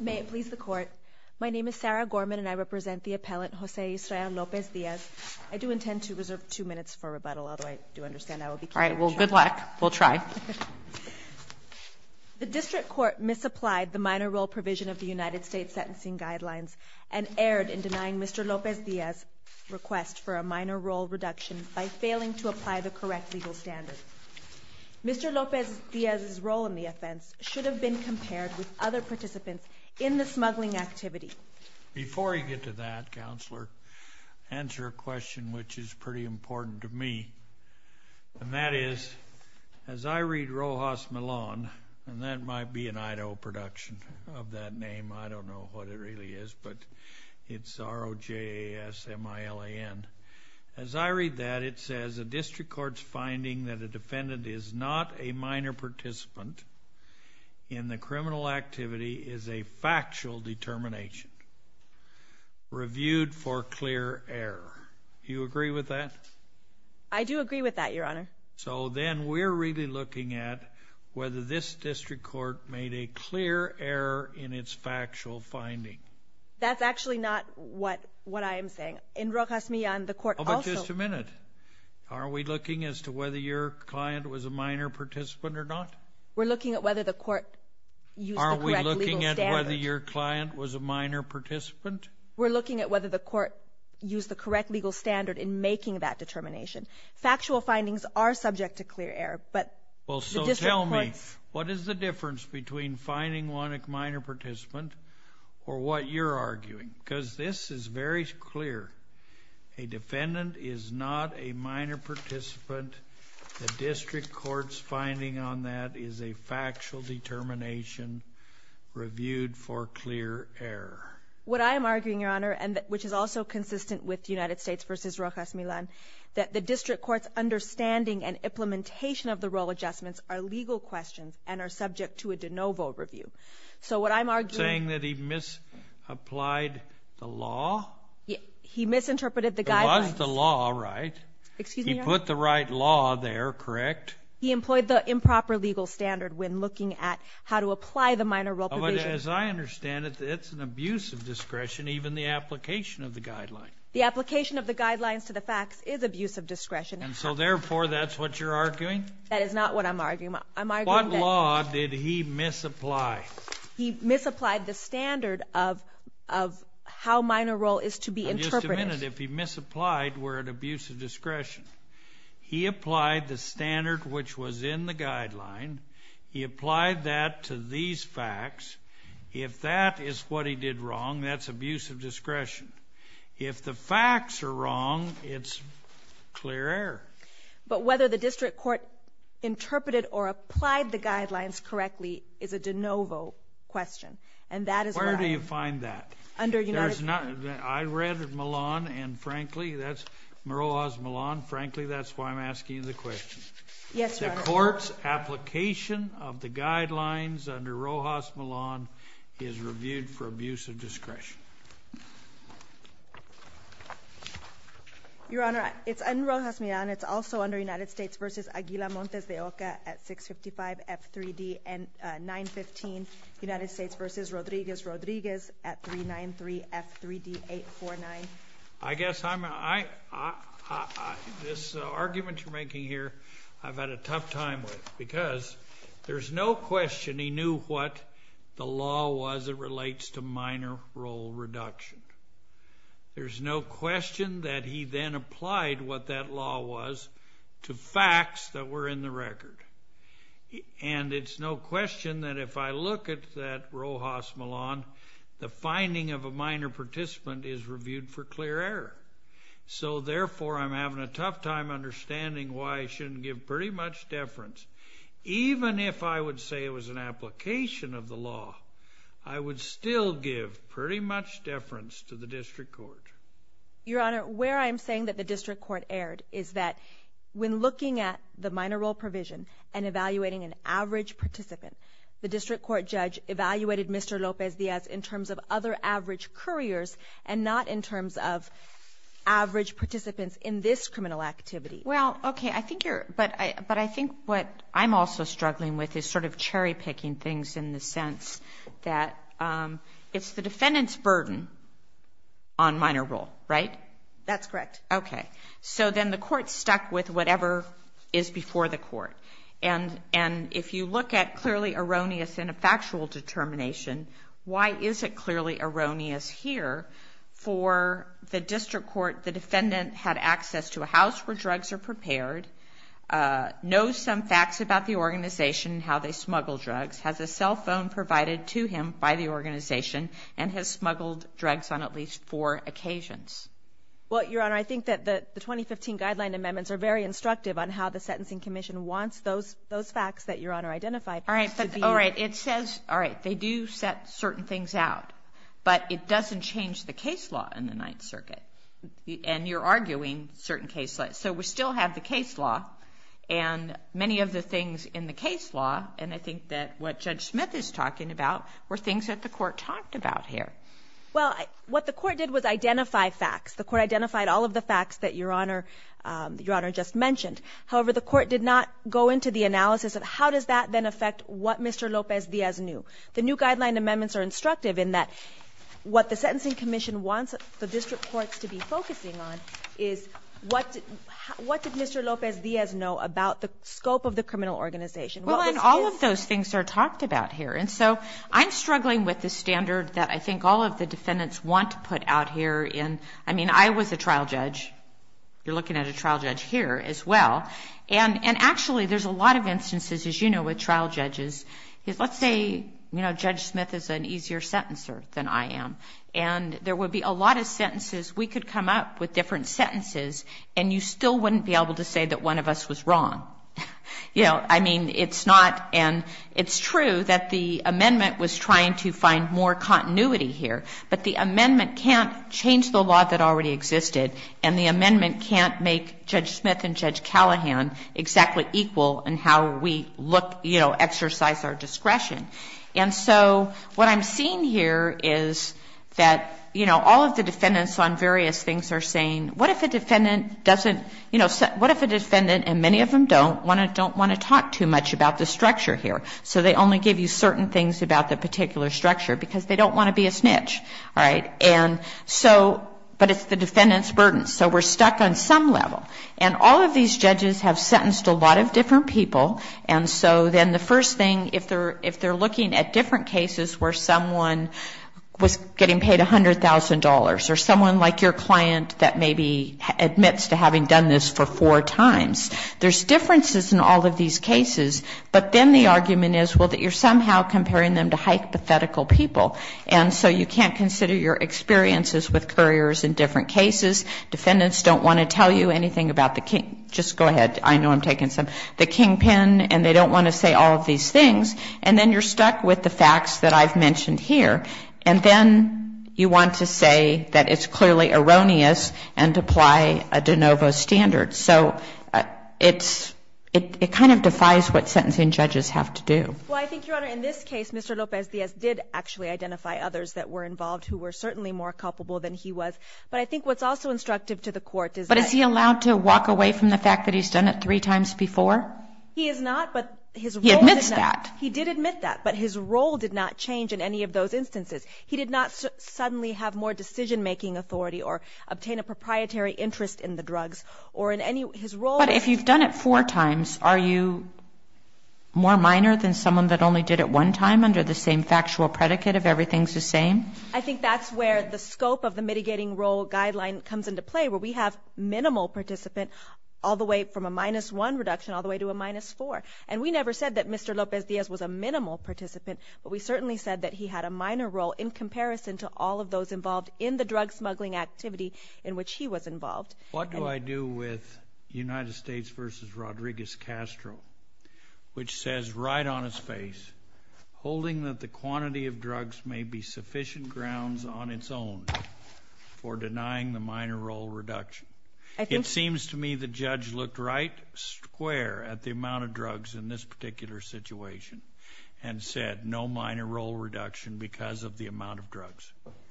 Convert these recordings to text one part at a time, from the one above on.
May it please the court. My name is Sarah Gorman and I represent the appellant Jose Israel Lopez-Diaz. I do intend to reserve two minutes for rebuttal, although I do understand I will be... All right, well, good luck. We'll try. The district court misapplied the minor role provision of the United States sentencing guidelines and erred in denying Mr. Lopez-Diaz request for a minor role reduction by failing to apply the correct legal standard. Mr. Lopez-Diaz's role in the offense should have been compared with other participants in the smuggling activity. Before you get to that, counselor, answer a question which is pretty important to me, and that is, as I read Rojas Milan, and that might be an Idaho production of that name, I don't know what it really is, but it's R-O-J-A-S-M-I-L-A-N. As I read that, it says a district court's finding that a defendant is not a minor participant in the criminal activity is a factual determination reviewed for clear error. You agree with that? I do agree with that, your honor. So then we're really looking at whether this district court made a clear error in its factual finding. That's actually not what I am saying. In Rojas Milan, the court also... Oh, but just a minute. Are we looking as to whether your client was a minor participant or not? We're looking at whether the court used the correct legal standard. Are we looking at whether your client was a minor participant? We're looking at whether the court used the correct legal standard in making that determination. Factual findings are subject to finding one a minor participant or what you're arguing, because this is very clear. A defendant is not a minor participant. The district court's finding on that is a factual determination reviewed for clear error. What I am arguing, your honor, and which is also consistent with United States v. Rojas Milan, that the district court's understanding and implementation of the adjustments are legal questions and are subject to a de novo review. So what I'm arguing... Saying that he misapplied the law? He misinterpreted the guidelines. It was the law, right? Excuse me, your honor? He put the right law there, correct? He employed the improper legal standard when looking at how to apply the minor role provision. As I understand it, it's an abuse of discretion, even the application of the guideline. The application of the guidelines to the facts is abuse of discretion. And so therefore, that's what you're arguing? That is not what I'm arguing. I'm arguing that... What law did he misapply? He misapplied the standard of how minor role is to be interpreted. Just a minute. If he misapplied, we're at abuse of discretion. He applied the standard which was in the guideline. He applied that to these facts. If that is what he did wrong, that's abuse of discretion. If the facts are wrong, it's clear but whether the district court interpreted or applied the guidelines correctly is a de novo question. And that is... Where do you find that? I read Milan and frankly, that's Rojas Milan. Frankly, that's why I'm asking you the question. Yes, your honor. The court's application of the guidelines under Rojas Milan is reviewed for abuse of discretion. Your honor, it's under Rojas Milan. It's also under United States versus Aguila Montes de Oca at 655 F3D 915, United States versus Rodriguez, Rodriguez at 393 F3D 849. I guess this argument you're making here, I've had a tough time with because there's no question he knew what the law was that relates to minor role reduction. There's no question that he then applied what that law was to facts that were in the record. And it's no question that if I look at that Rojas Milan, the finding of a minor participant is reviewed for clear error. So therefore, I'm having a tough time understanding why it shouldn't give pretty much deference. Even if I would say it was an application of the law, I would still give pretty much deference to the district court. Your honor, where I'm saying that the district court erred is that when looking at the minor role provision and evaluating an average participant, the district court judge evaluated Mr. Lopez Diaz in terms of other average couriers and not in terms of average participants in this criminal activity. Well, okay. I think you're, but I, but I think what I'm also struggling with is sort of cherry picking things in the sense that it's the defendant's burden on minor role, right? That's correct. Okay. So then the court stuck with whatever is before the court. And, and if you look at clearly erroneous in a factual determination, why is it clearly erroneous here for the district court, the defendant had access to a house where drugs are prepared, uh, knows some facts about the organization, how they smuggle drugs, has a cell phone provided to him by the organization and has smuggled drugs on at least four occasions. Well, your honor, I think that the 2015 guideline amendments are very instructive on how the sentencing commission wants those, those facts that your honor identified. All right. All right. It says, all right, they do set certain things out, but it doesn't change the case law in the ninth circuit and you're arguing certain cases. So we still have the case law and many of the things in the case law. And I think that what judge Smith is talking about were things that the court talked about here. Well, what the court did was identify facts. The court identified all of the facts that your honor, um, your honor just mentioned. However, the court did not go into the analysis of how does that then affect what Mr. Lopez Diaz knew? The new guideline amendments are instructive in what the sentencing commission wants the district courts to be focusing on is what, what did Mr. Lopez Diaz know about the scope of the criminal organization? Well, and all of those things are talked about here. And so I'm struggling with the standard that I think all of the defendants want to put out here in, I mean, I was a trial judge. You're looking at a trial judge here as well. And, and actually there's a lot of instances, as you know, with trial judges, let's say, you know, judge Smith is an easier sentencer than I am. And there would be a lot of sentences. We could come up with different sentences and you still wouldn't be able to say that one of us was wrong. You know, I mean, it's not, and it's true that the amendment was trying to find more continuity here, but the amendment can't change the law that already existed. And the amendment can't make judge Smith and judge look, you know, exercise our discretion. And so what I'm seeing here is that, you know, all of the defendants on various things are saying, what if a defendant doesn't, you know, what if a defendant, and many of them don't, want to, don't want to talk too much about the structure here? So they only give you certain things about the particular structure, because they don't want to be a snitch. All right? And so, but it's the defendant's burden. So we're stuck on some level. And all of these judges have sentenced a lot of different people. And so then the first thing, if they're looking at different cases where someone was getting paid $100,000, or someone like your client that maybe admits to having done this for four times, there's differences in all of these cases. But then the argument is, well, that you're somehow comparing them to hypothetical people. And so you can't consider your experiences with couriers in different cases. Defendants don't want to tell you anything about the king — just go ahead. I know I'm taking some — the kingpin, and they don't want to say all of these things. And then you're stuck with the facts that I've mentioned here. And then you want to say that it's clearly erroneous and apply a de novo standard. So it's — it kind of defies what sentencing judges have to do. Well, I think, Your Honor, in this case, Mr. Lopez-Diaz did actually identify others that were involved who were certainly more culpable than he was. But I think what's also instructive to the court is that — But is he allowed to walk away from the fact that he's done it three times before? He is not, but his role — He admits that. He did admit that. But his role did not change in any of those instances. He did not suddenly have more decision-making authority or obtain a proprietary interest in the drugs or in any — his role — But if you've done it four times, are you more minor than someone that only did it one time under the same factual predicate of everything's the same? I think that's where the scope of the mitigating role guideline comes into play, where we have minimal participant all the way from a minus-one reduction all the way to a minus-four. And we never said that Mr. Lopez-Diaz was a minimal participant, but we certainly said that he had a minor role in comparison to all of those involved in the drug smuggling activity in which he was involved. What do I do with United States v. Rodriguez Castro, which says right on his face, holding that the quantity of drugs may be sufficient grounds on its own for denying the minor role reduction? I think — It seems to me the judge looked right square at the amount of drugs in this particular situation and said, no minor role reduction because of the amount of drugs.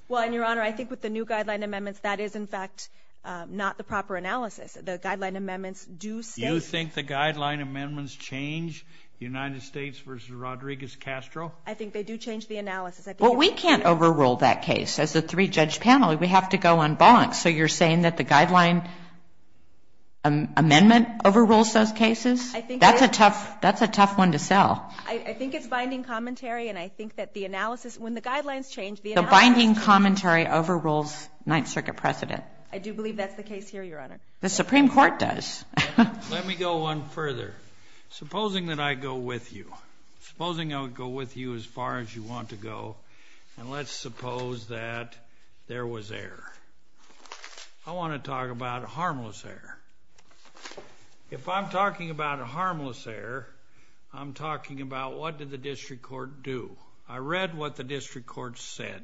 Well, and, Your Honor, I think with the new guideline amendments, that is, in fact, not the proper analysis. The guideline amendments do state — You think the guideline amendments change United States v. Rodriguez Castro? I think they do change the analysis. Well, we can't overrule that case. As a three-judge panel, we have to go on bonks. So you're saying that the guideline amendment overrules those cases? That's a tough one to sell. I think it's binding commentary, and I think that the analysis — when the guidelines The binding commentary overrules Ninth Circuit precedent. I do believe that's the case here, Your Honor. The Supreme Court does. Let me go one further. Supposing that I go with you. Supposing I would go with you as far as you want to go, and let's suppose that there was error. I want to talk about harmless error. If I'm talking about harmless error, I'm talking about what did the district court do? I read what the district court said.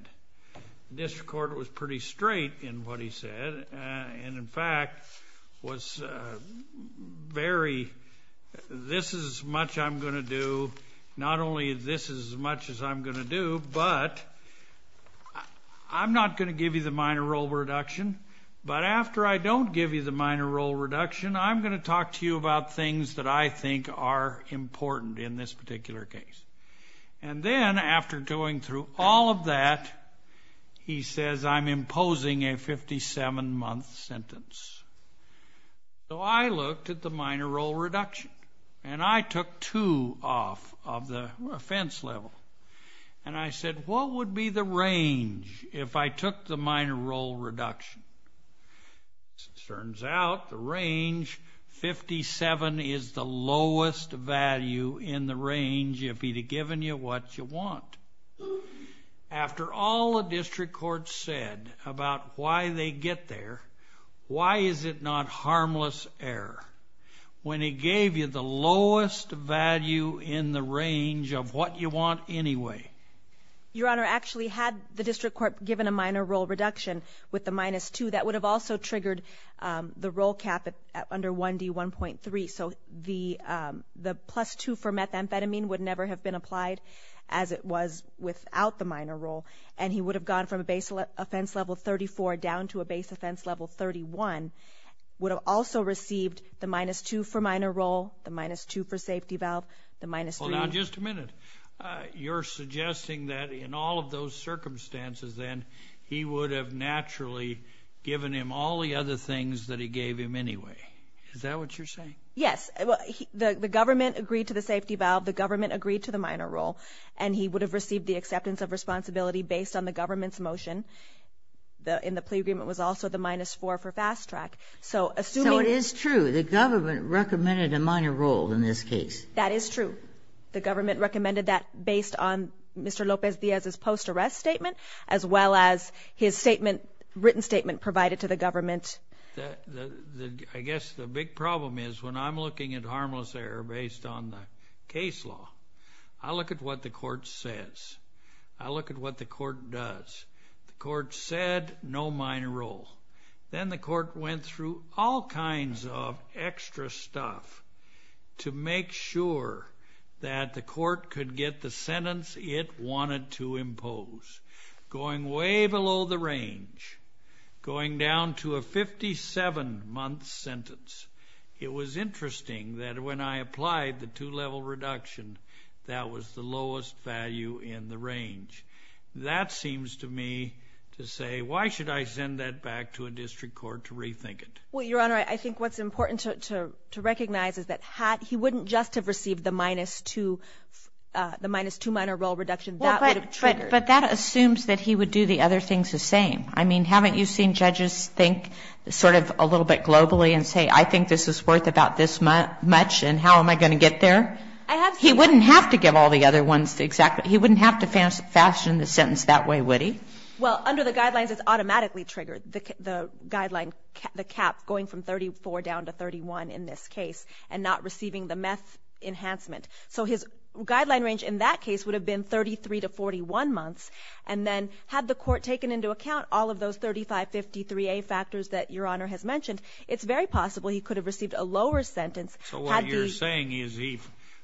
The district court was pretty straight in what he said, and, in fact, was very, this is as much I'm going to do. Not only this is as much as I'm going to do, but I'm not going to give you the minor role reduction, but after I don't give you the minor role reduction, I'm going to talk to you about things that I think are important in this particular case. And then, after going through all of that, he says I'm imposing a 57-month sentence. So I looked at the minor role reduction, and I took two off of the offense level, and I said, what would be the range if I took the minor role reduction? As it turns out, the range, 57, is the lowest value in the range if he'd have given you what you want. After all the district court said about why they get there, why is it not harmless error when he gave you the lowest value in the range of what you want anyway? Your Honor, actually, had the district court given a minor role reduction with the minus two. That would have also triggered the role cap under 1D1.3. So the plus two for methamphetamine would never have been applied as it was without the minor role, and he would have gone from a base offense level 34 down to a base offense level 31, would have also received the minus two for minor role, the minus two for safety valve, the minus three. Now, just a minute. You're suggesting that in all of those circumstances, then, he would have naturally given him all the other things that he gave him anyway. Is that what you're saying? Yes. The government agreed to the safety valve, the government agreed to the minor role, and he would have received the acceptance of responsibility based on the government's motion. In the plea agreement was also the minus four for fast track. So it is true. The government recommended a minor role in this case. That is true. The government recommended that based on Mr. Lopez Diaz's post arrest statement, as well as his written statement provided to the government. I guess the big problem is when I'm looking at harmless error based on the case law, I look at what the court says. I look at what the court does. The court said no minor role. Then the court went through all kinds of extra stuff to make sure that the court could get the sentence it wanted to impose. Going way below the range, going down to a 57-month sentence, it was interesting that when I applied the two-level reduction, that was the lowest value in the range. That seems to me to say, why should I send that back to a district court to rethink it? Well, Your Honor, I think what's important to recognize is that he wouldn't just have received the minus two minor role reduction. That would have triggered. But that assumes that he would do the other things the same. I mean, haven't you seen judges think sort of a little bit globally and say, I think this is worth about this much, and how am I going to get there? He wouldn't have to give all the other ones exactly. He wouldn't have to fashion the sentence that way, would he? Well, under the guidelines, it's automatically triggered, the guideline, the cap going from 34 down to 31 in this case, and not receiving the meth enhancement. So his guideline range in that case would have been 33 to 41 months. And then had the court taken into account all of those 3553A factors that Your Honor has mentioned, it's very possible he could have received a lower sentence. So what you're saying is he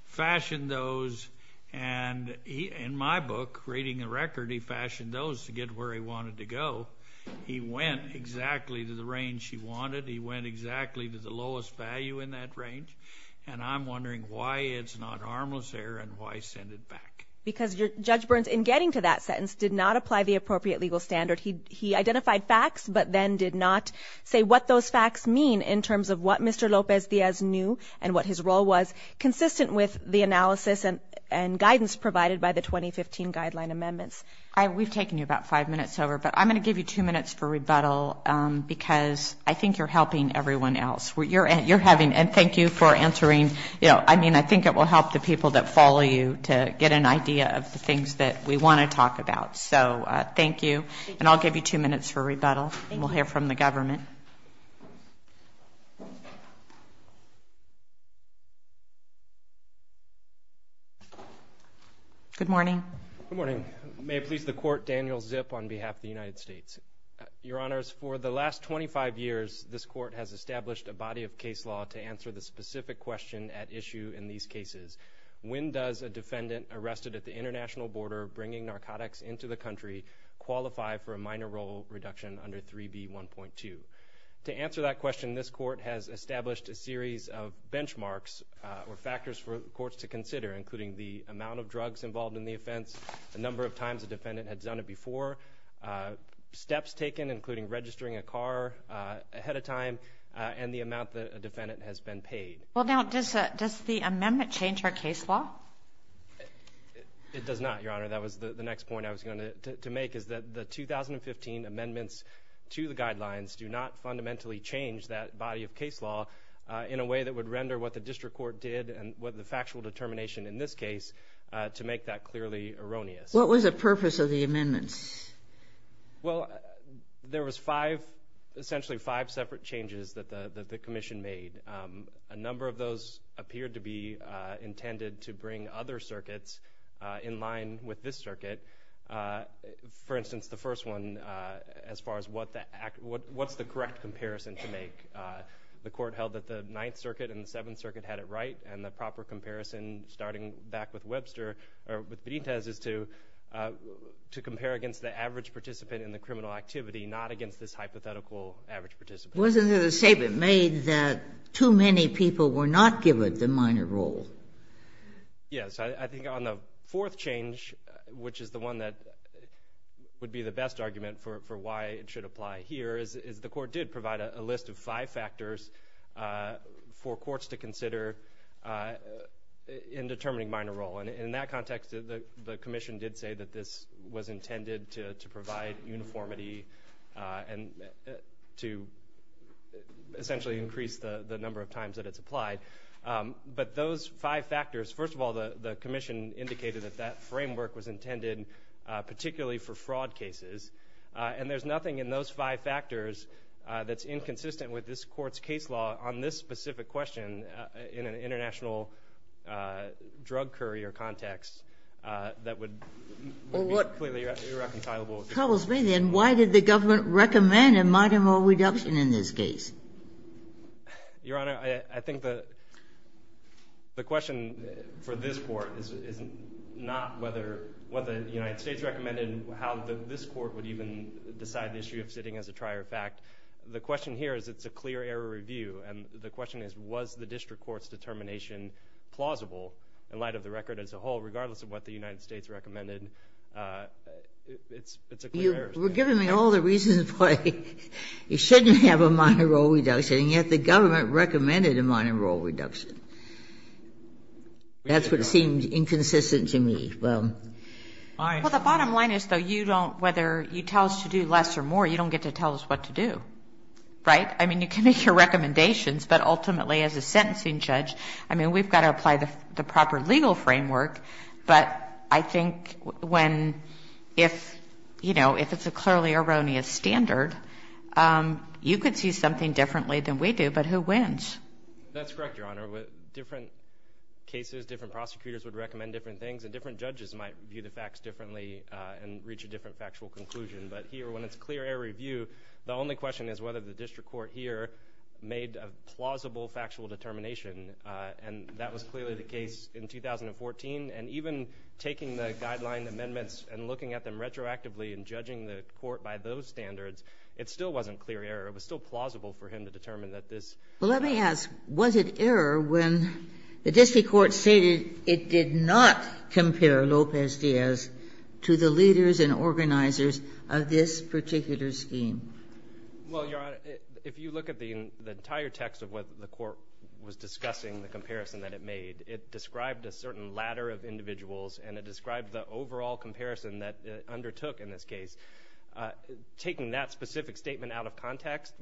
fashioned those, and in my book, Reading the Record, he fashioned those to get where he wanted to go. He went exactly to the range he wanted. He went exactly to the lowest value in that range. And I'm wondering why it's not harmless there and why send it back. Because Judge Burns, in getting to that sentence, did not apply the appropriate legal standard. He identified facts, but then did not say what those facts mean in terms of what Mr. and what his role was, consistent with the analysis and guidance provided by the 2015 Guideline Amendments. We've taken you about five minutes over, but I'm going to give you two minutes for rebuttal because I think you're helping everyone else. You're having, and thank you for answering, you know, I mean, I think it will help the people that follow you to get an idea of the things that we want to talk about. So thank you. And I'll give you two minutes for rebuttal. We'll hear from the government. Good morning. Good morning. May it please the Court, Daniel Zip on behalf of the United States. Your Honors, for the last 25 years, this Court has established a body of case law to answer the specific question at issue in these cases. When does a defendant arrested at the international border bringing narcotics into the country qualify for a minor role reduction under 3B1.2? To answer that question, this Court has established a series of benchmarks or factors for courts to consider, including the amount of drugs involved in the offense, the number of times a defendant had done it before, steps taken, including registering a car ahead of time, and the amount that a defendant has been paid. Well, now, does the amendment change our case law? It does not, Your Honor. That was the next point I was going to make, is that the 2015 amendments to the guidelines do not fundamentally change that body of case law in a way that would render what the district court did and what the factual determination in this case to make that clearly erroneous. What was the purpose of the amendments? Well, there was five, essentially five separate changes that the commission made. A number of those appeared to be intended to bring other circuits in line with this circuit. For instance, the first one, as far as what's the correct comparison to make, the Court held that the Ninth Circuit and the Seventh Circuit had it right, and the proper comparison, starting back with Webster, or with Benitez, is to compare against the average participant in the criminal activity, not against this hypothetical average participant. Wasn't it a statement made that too many people were not given the minor role? Yes. I think on the fourth change, which is the one that would be the best argument for why it should apply here, is the Court did provide a list of five factors for courts to consider in determining minor role. In that context, the commission did say that this was intended to provide uniformity and to essentially increase the number of times that it's applied. But those five factors, first of all, the commission indicated that that framework was intended particularly for fraud cases, and there's nothing in those five factors that's inconsistent with this Court's case law on this specific question in an international drug courier context that would be clearly irreconcilable. Well, what troubles me then, why did the government recommend a minor role reduction in this case? Your Honor, I think the question for this Court is not whether the United States recommended how this Court would even decide the issue of sitting as a trier fact. The question here is it's a clear error review, and the question is, was the district Court's determination plausible in light of the record as a whole, regardless of what the United States recommended? It's a clear error. They were giving me all the reasons why you shouldn't have a minor role reduction, and yet the government recommended a minor role reduction. That's what seemed inconsistent to me. Well, the bottom line is, though, you don't, whether you tell us to do less or more, you don't get to tell us what to do, right? I mean, you can make your recommendations, but ultimately, as a sentencing judge, I mean, we've got to apply the proper legal framework, but I think when, if, you know, if it's a clearly erroneous standard, you could see something differently than we do, but who wins? That's correct, Your Honor. Different cases, different prosecutors would recommend different things, and different judges might view the facts differently and reach a different factual conclusion, but here, when it's a clear error review, the only question is whether the district Court here made a plausible factual determination, and that was clearly the case in 2014. And even taking the guideline amendments and looking at them retroactively and judging the Court by those standards, it still wasn't clear error. It was still plausible for him to determine that this... Well, let me ask, was it error when the district Court stated it did not compare Lopez-Diaz to the leaders and organizers of this particular scheme? Well, Your Honor, if you look at the entire text of what the Court was discussing, the comparison that it made, it described a certain ladder of individuals and it described the overall comparison that it undertook in this case. Taking that specific statement out of context,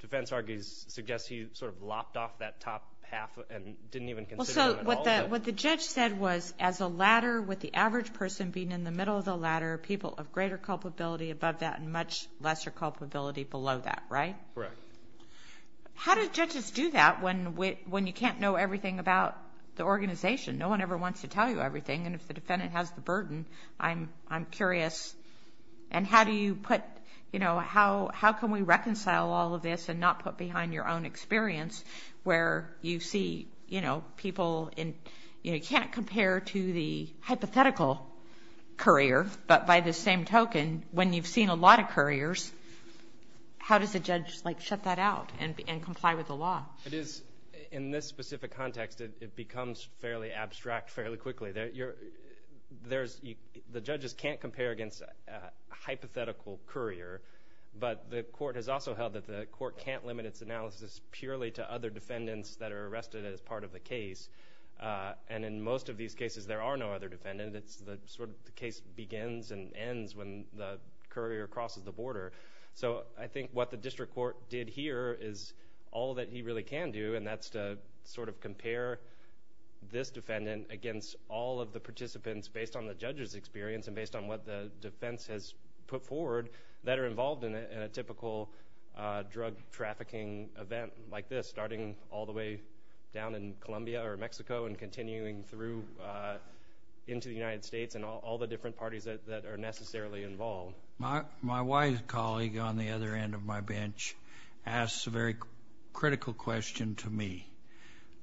defense argues, suggests he sort of lopped off that top half and didn't even consider... Well, so, what the judge said was, as a ladder with the average person being in the middle of the ladder, people of greater culpability above that and much lesser culpability below that, right? Correct. How do judges do that when you can't know everything about the organization? No one ever wants to tell you everything, and if the defendant has the burden, I'm curious, and how do you put... How can we reconcile all of this and not put behind your own experience where you see people in... You can't compare to the hypothetical courier, but by the same token, when you've seen a lot of couriers, how does a judge shut that out and comply with the law? In this specific context, it becomes fairly abstract fairly quickly. The judges can't compare against a hypothetical courier, but the Court has also held that the Court can't limit its analysis purely to other defendants that are arrested as part of the case. And in most of these cases, there are no other defendants. The case begins and ends when the courier crosses the border. So I think what the District Court did here is all that he really can do, and that's to sort of compare this defendant against all of the participants based on the judge's experience and based on what the defense has put forward that are involved in a typical drug trafficking event like this, starting all the way down in Colombia or Mexico and continuing through into the United States and all the different parties that are necessarily involved. My wife's colleague on the other end of my bench asks a very critical question to me.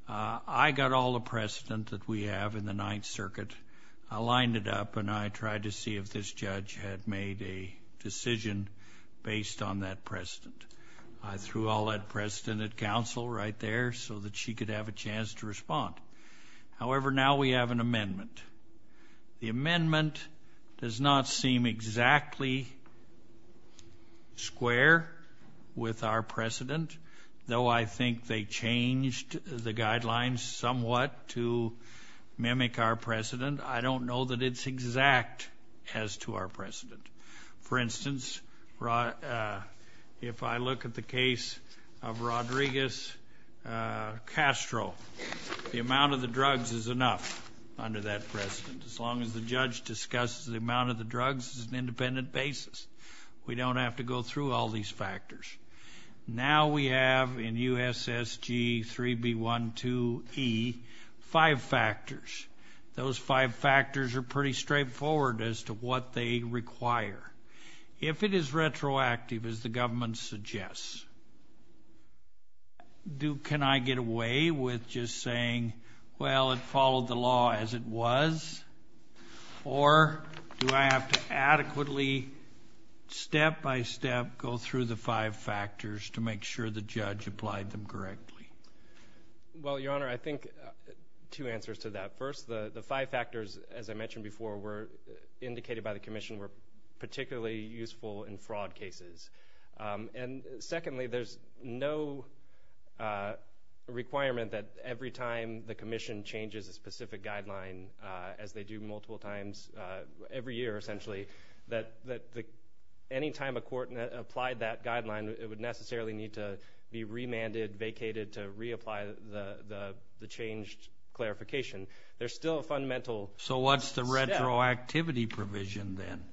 I got all the precedent that we have in the Ninth Circuit. I lined it up, and I tried to see if this judge had made a decision based on that precedent. I threw all that precedent at counsel right there so that she could have a chance to respond. However, now we have an amendment. The amendment does not seem exactly square with our precedent, though I think they changed the guidelines somewhat to mimic our precedent. I don't know that it's exact as to our precedent. For instance, if I look at the case of Rodriguez-Castro, the amount of the drugs is enough under that precedent. As long as the judge discusses the amount of the drugs as an independent basis, we don't have to go through all these factors. Now we have in USSG 3B12E five factors. Those five factors are pretty straightforward as to what they require. If it is retroactive, as the government suggests, can I get away with just saying, well, it followed the law as it was? Or do I have to adequately, step by step, go through the five factors to make sure the judge applied them correctly? Well, Your Honor, I think two answers to that. First, the five factors, as I mentioned before, indicated by the Commission, were particularly useful in fraud cases. And secondly, there's no requirement that every time the Commission changes a specific guideline, as they do multiple times every year, essentially, that any time a court applied that guideline, it would necessarily need to be remanded, vacated to reapply the changed clarification. There's still a fundamental step... retroactivity provision, then.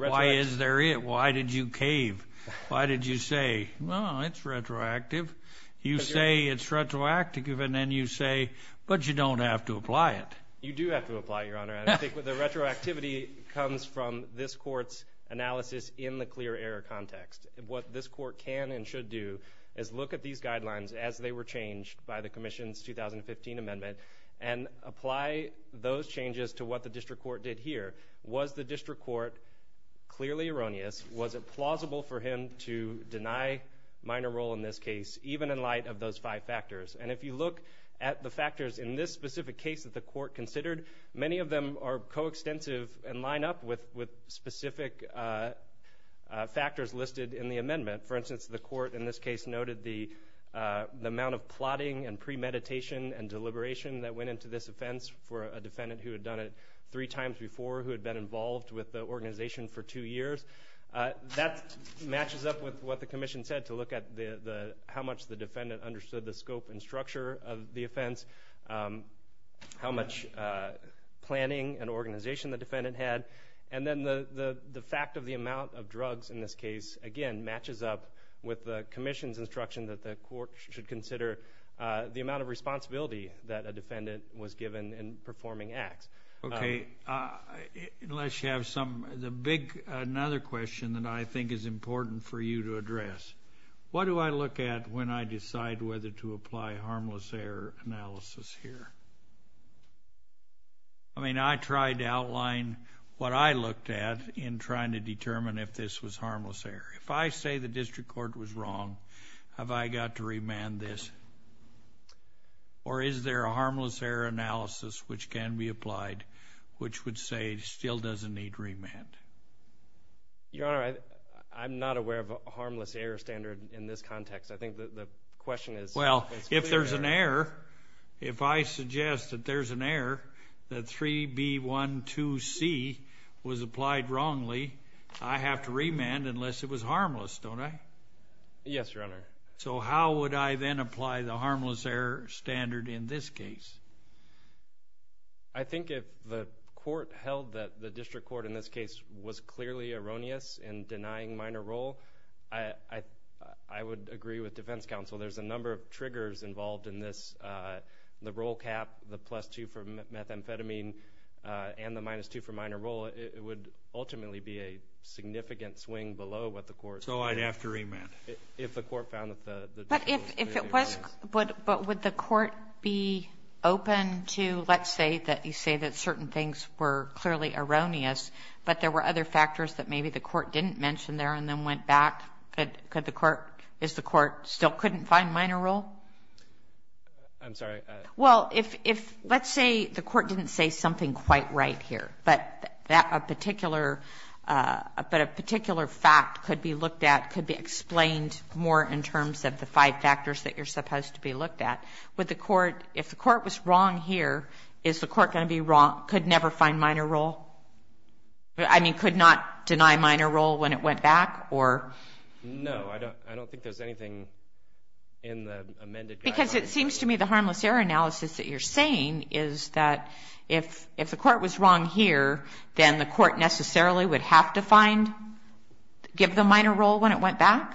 Why is there it? Why did you cave? Why did you say, well, it's retroactive? You say it's retroactive, and then you say, but you don't have to apply it. You do have to apply it, Your Honor. I think the retroactivity comes from this court's analysis in the clear error context. What this court can and should do is look at these guidelines as they were changed by the Commission's 2015 amendment, and apply those changes to what the district court did here. Was the district court clearly erroneous? Was it plausible for him to deny minor role in this case, even in light of those five factors? And if you look at the factors in this specific case that the court considered, many of them are coextensive and line up with specific factors listed in the amendment. For instance, the court in this case noted the amount of plotting and premeditation and deliberation that went into this offense for a defendant who had done it three times before who had been involved with the organization for two years. That matches up with what the Commission said to look at how much the defendant understood the scope and structure of the offense, how much planning and organization the defendant had, and then the fact of the amount of drugs in this case, again, matches up with the Commission's instruction that the court should consider the amount of responsibility that a defendant was given in performing acts. Okay. Unless you have some... Another question that I think is important for you to address. What do I look at when I decide whether to apply harmless error analysis here? I mean, I tried to outline what I looked at in trying to determine if this was harmless error. If I say the district court was wrong, have I got to remand this? Or is there a harmless error analysis which can be applied which would say it still doesn't need remand? Your Honor, I'm not aware of a harmless error standard in this context. I think the question is... Well, if there's an error, if I suggest that there's an error, that 3B12C was applied wrongly, I have to remand unless it was harmless, don't I? Yes, Your Honor. So how would I then apply the harmless error standard in this case? I think if the court held that the district court in this case was clearly erroneous in denying minor role, I would agree with defense counsel. There's a number of triggers involved in this. The role cap, the plus 2 for methamphetamine, and the minus 2 for minor role, it would ultimately be a significant swing below what the court... So I'd have to remand if the court found that the... But would the court be open to, let's say that you say that certain things were clearly erroneous, but there were other factors that maybe the court didn't mention there and then went back? Is the court still couldn't find minor role? I'm sorry? Well, let's say the court didn't say something quite right here, but a particular fact could be looked at, could be explained more in terms of the five factors that you're supposed to be looked at. If the court was wrong here, is the court going to be wrong, could never find minor role? I mean, could not deny minor role when it went back? No, I don't think there's anything in the amended guideline. Because it seems to me the harmless error analysis that you're saying is that if the court was wrong here, then the court necessarily would have to give the minor role when it went back?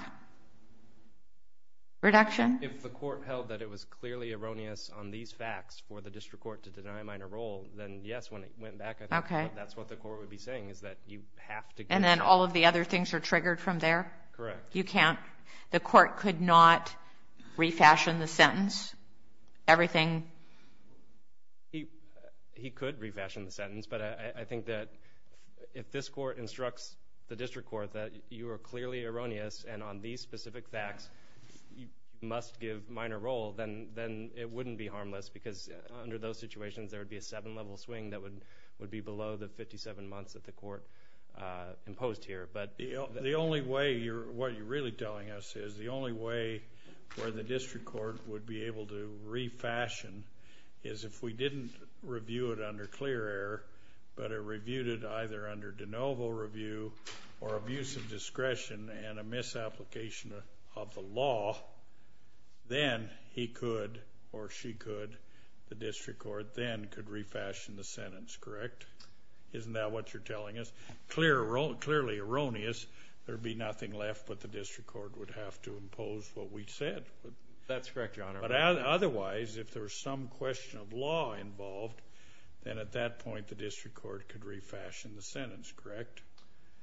Reduction? If the court held that it was clearly erroneous on these facts for the district court to deny minor role, then yes, when it went back that's what the court would be saying, is that you have to give... And then all of the other things are triggered from there? Correct. The court could not refashion the sentence? Everything... He could refashion the sentence, but I think that if this court instructs the district court that you are clearly erroneous and on these specific facts you must give minor role, then it wouldn't be harmless because under those situations there would be a seven level swing that would be below the 57 months that the court imposed here. The only way, what you're really telling us is the only way where the district court would be able to refashion is if we didn't review it under clear error but reviewed it either under de novo review or abuse of discretion and a misapplication of the law then he could or she could the district court then could refashion the sentence, correct? Isn't that what you're telling us? Clearly erroneous, there would be nothing left but the district court would That's correct, your honor. Otherwise, if there's some question of law involved then at that point the district court could refashion the sentence correct?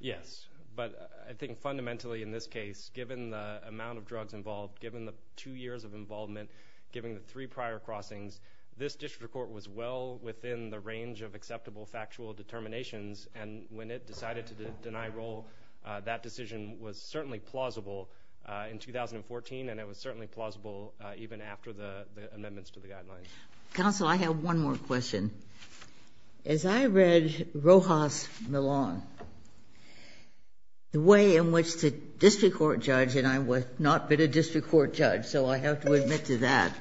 Yes but I think fundamentally in this case given the amount of drugs involved given the two years of involvement given the three prior crossings this district court was well within the range of acceptable factual determinations and when it decided to deny role that decision was certainly plausible in 2014 and it was certainly plausible even after the amendments Counsel, I have one more question. As I read Rojas Milon the way in which the district court judge and I have not been a district court judge so I have to admit to that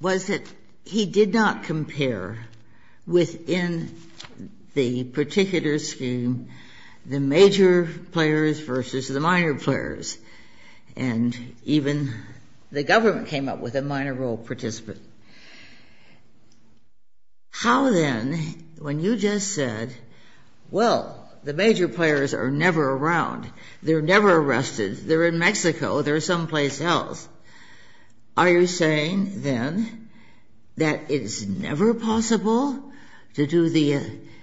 was that he did not compare within the particular scheme the major players versus the minor players and even the government came up with a minor role participant How then when you just said well, the major players are never around they're never arrested, they're in Mexico they're someplace else are you saying then that it's never possible to do the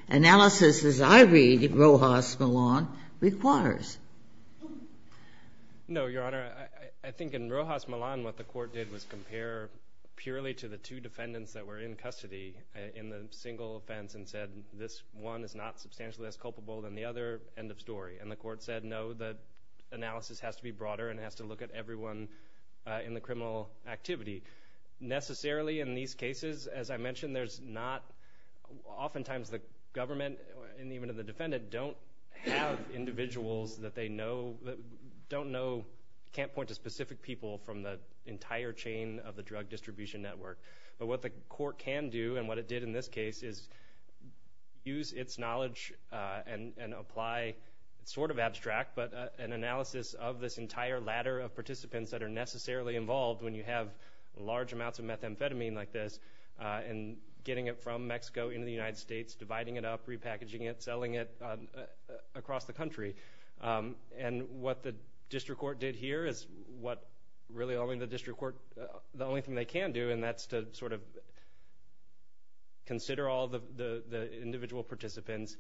analysis as I read Rojas Milon requires? No, Your Honor I think in Rojas Milon what the court did was compare purely to the two defendants that were in custody in the single offense and said this one is not substantially as culpable than the other end of story and the court said no, the analysis has to be broader and has to look at everyone in the criminal activity necessarily in these cases, as I mentioned, there's not often times the government and even the defendant don't have individuals that they know don't know can't point to specific people from the entire chain of the drug distribution network but what the court can do and what it did in this case is use its knowledge and apply sort of abstract but an analysis of this entire ladder of participants that are necessarily involved when you have large amounts of methamphetamine like this and getting it from Mexico into the United States, dividing it up repackaging it, selling it across the country and what the district court did here is what really only the district court, the only thing they can do and that's to sort of consider all the individual participants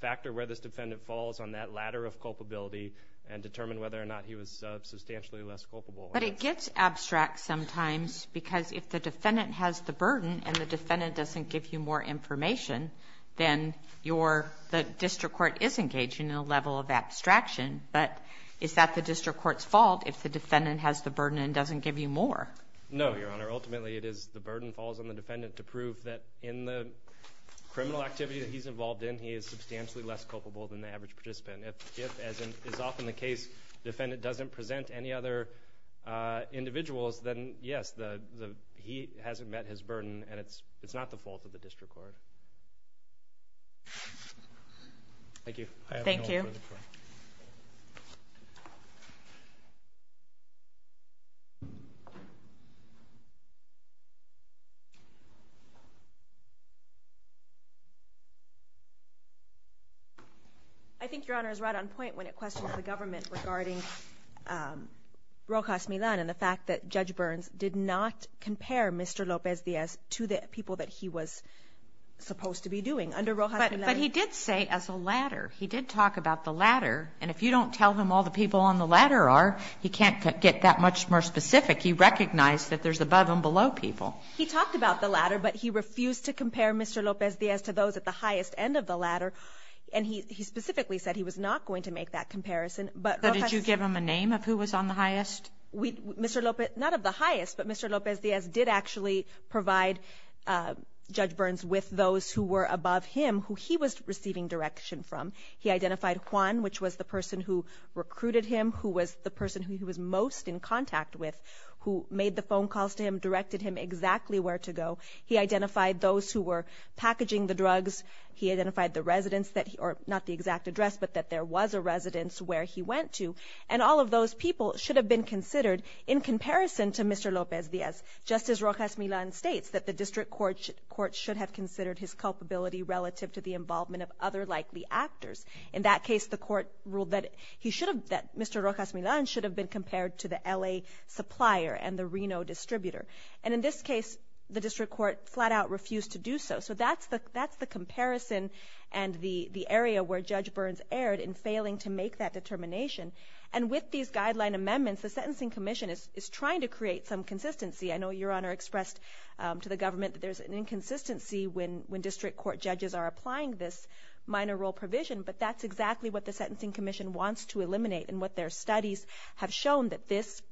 factor where this defendant falls on that ladder of culpability and determine whether or not he was substantially less culpable But it gets abstract sometimes because if the defendant has the burden and the defendant doesn't give you more the district court is engaging in a level of abstraction but is that the district court's fault if the defendant has the burden and doesn't give you more? No, your honor. Ultimately it is the burden falls on the defendant to prove that in the criminal activity that he's involved in, he is substantially less culpable than the average participant If, as is often the case, defendant doesn't present any other individuals, then yes he hasn't met his burden and it's not the fault of the district court Thank you I think your honor is right on point when it questions the government regarding Rojas Milan and the fact that Judge Burns did not compare Mr. Lopez Diaz to the people that he was supposed to be doing under Rojas Milan But he did say as a ladder he did talk about the ladder and if you don't tell him all the people on the ladder are he can't get that much more specific he recognized that there's above and below people He talked about the ladder but he refused to compare Mr. Lopez Diaz to those at the highest end of the ladder and he specifically said he was not going to make that comparison But did you give him a name of who was on the highest? Mr. Lopez, not of the highest but Mr. Lopez Diaz did actually provide Judge Burns with those who were above him, who he was receiving direction from He identified Juan, which was the person who recruited him, who was the person who he was most in contact with who made the phone calls to him, directed him exactly where to go He identified those who were packaging the drugs He identified the residents not the exact address, but that there was a residence where he went to and all of those people should have been considered in comparison to Mr. Lopez Diaz Just as Rojas Milán states that the district court should have considered his culpability relative to the involvement of other likely actors In that case, the court ruled that Mr. Rojas Milán should have been compared to the LA supplier and the Reno distributor And in this case, the district court flat out refused to do so. So that's the comparison and the area where Judge Burns erred in failing to make that determination And with these guideline amendments, the Sentencing Commission is trying to create some consistency I know Your Honor expressed to the government that there's an inconsistency when district court judges are applying this minor role provision, but that's exactly what the Sentencing Commission wants to eliminate and what their studies have shown that this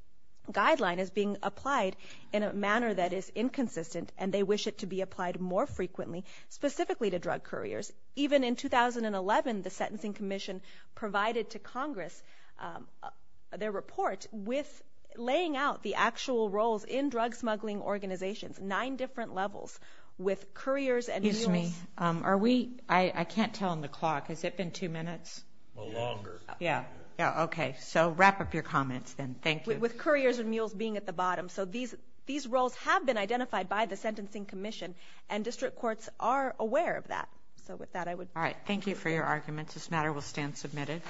guideline is being applied in a manner that is inconsistent, and they wish it to be applied more frequently, specifically to drug couriers Even in 2011 the Sentencing Commission provided to Congress their report with laying out the actual roles in drug smuggling organizations nine different levels with couriers and mules Excuse me, I can't tell on the clock Has it been two minutes? A little longer Okay, so wrap up your comments then, thank you With couriers and mules being at the bottom These roles have been identified by the Sentencing Commission and district courts are aware of that Thank you for your arguments This matter will stand submitted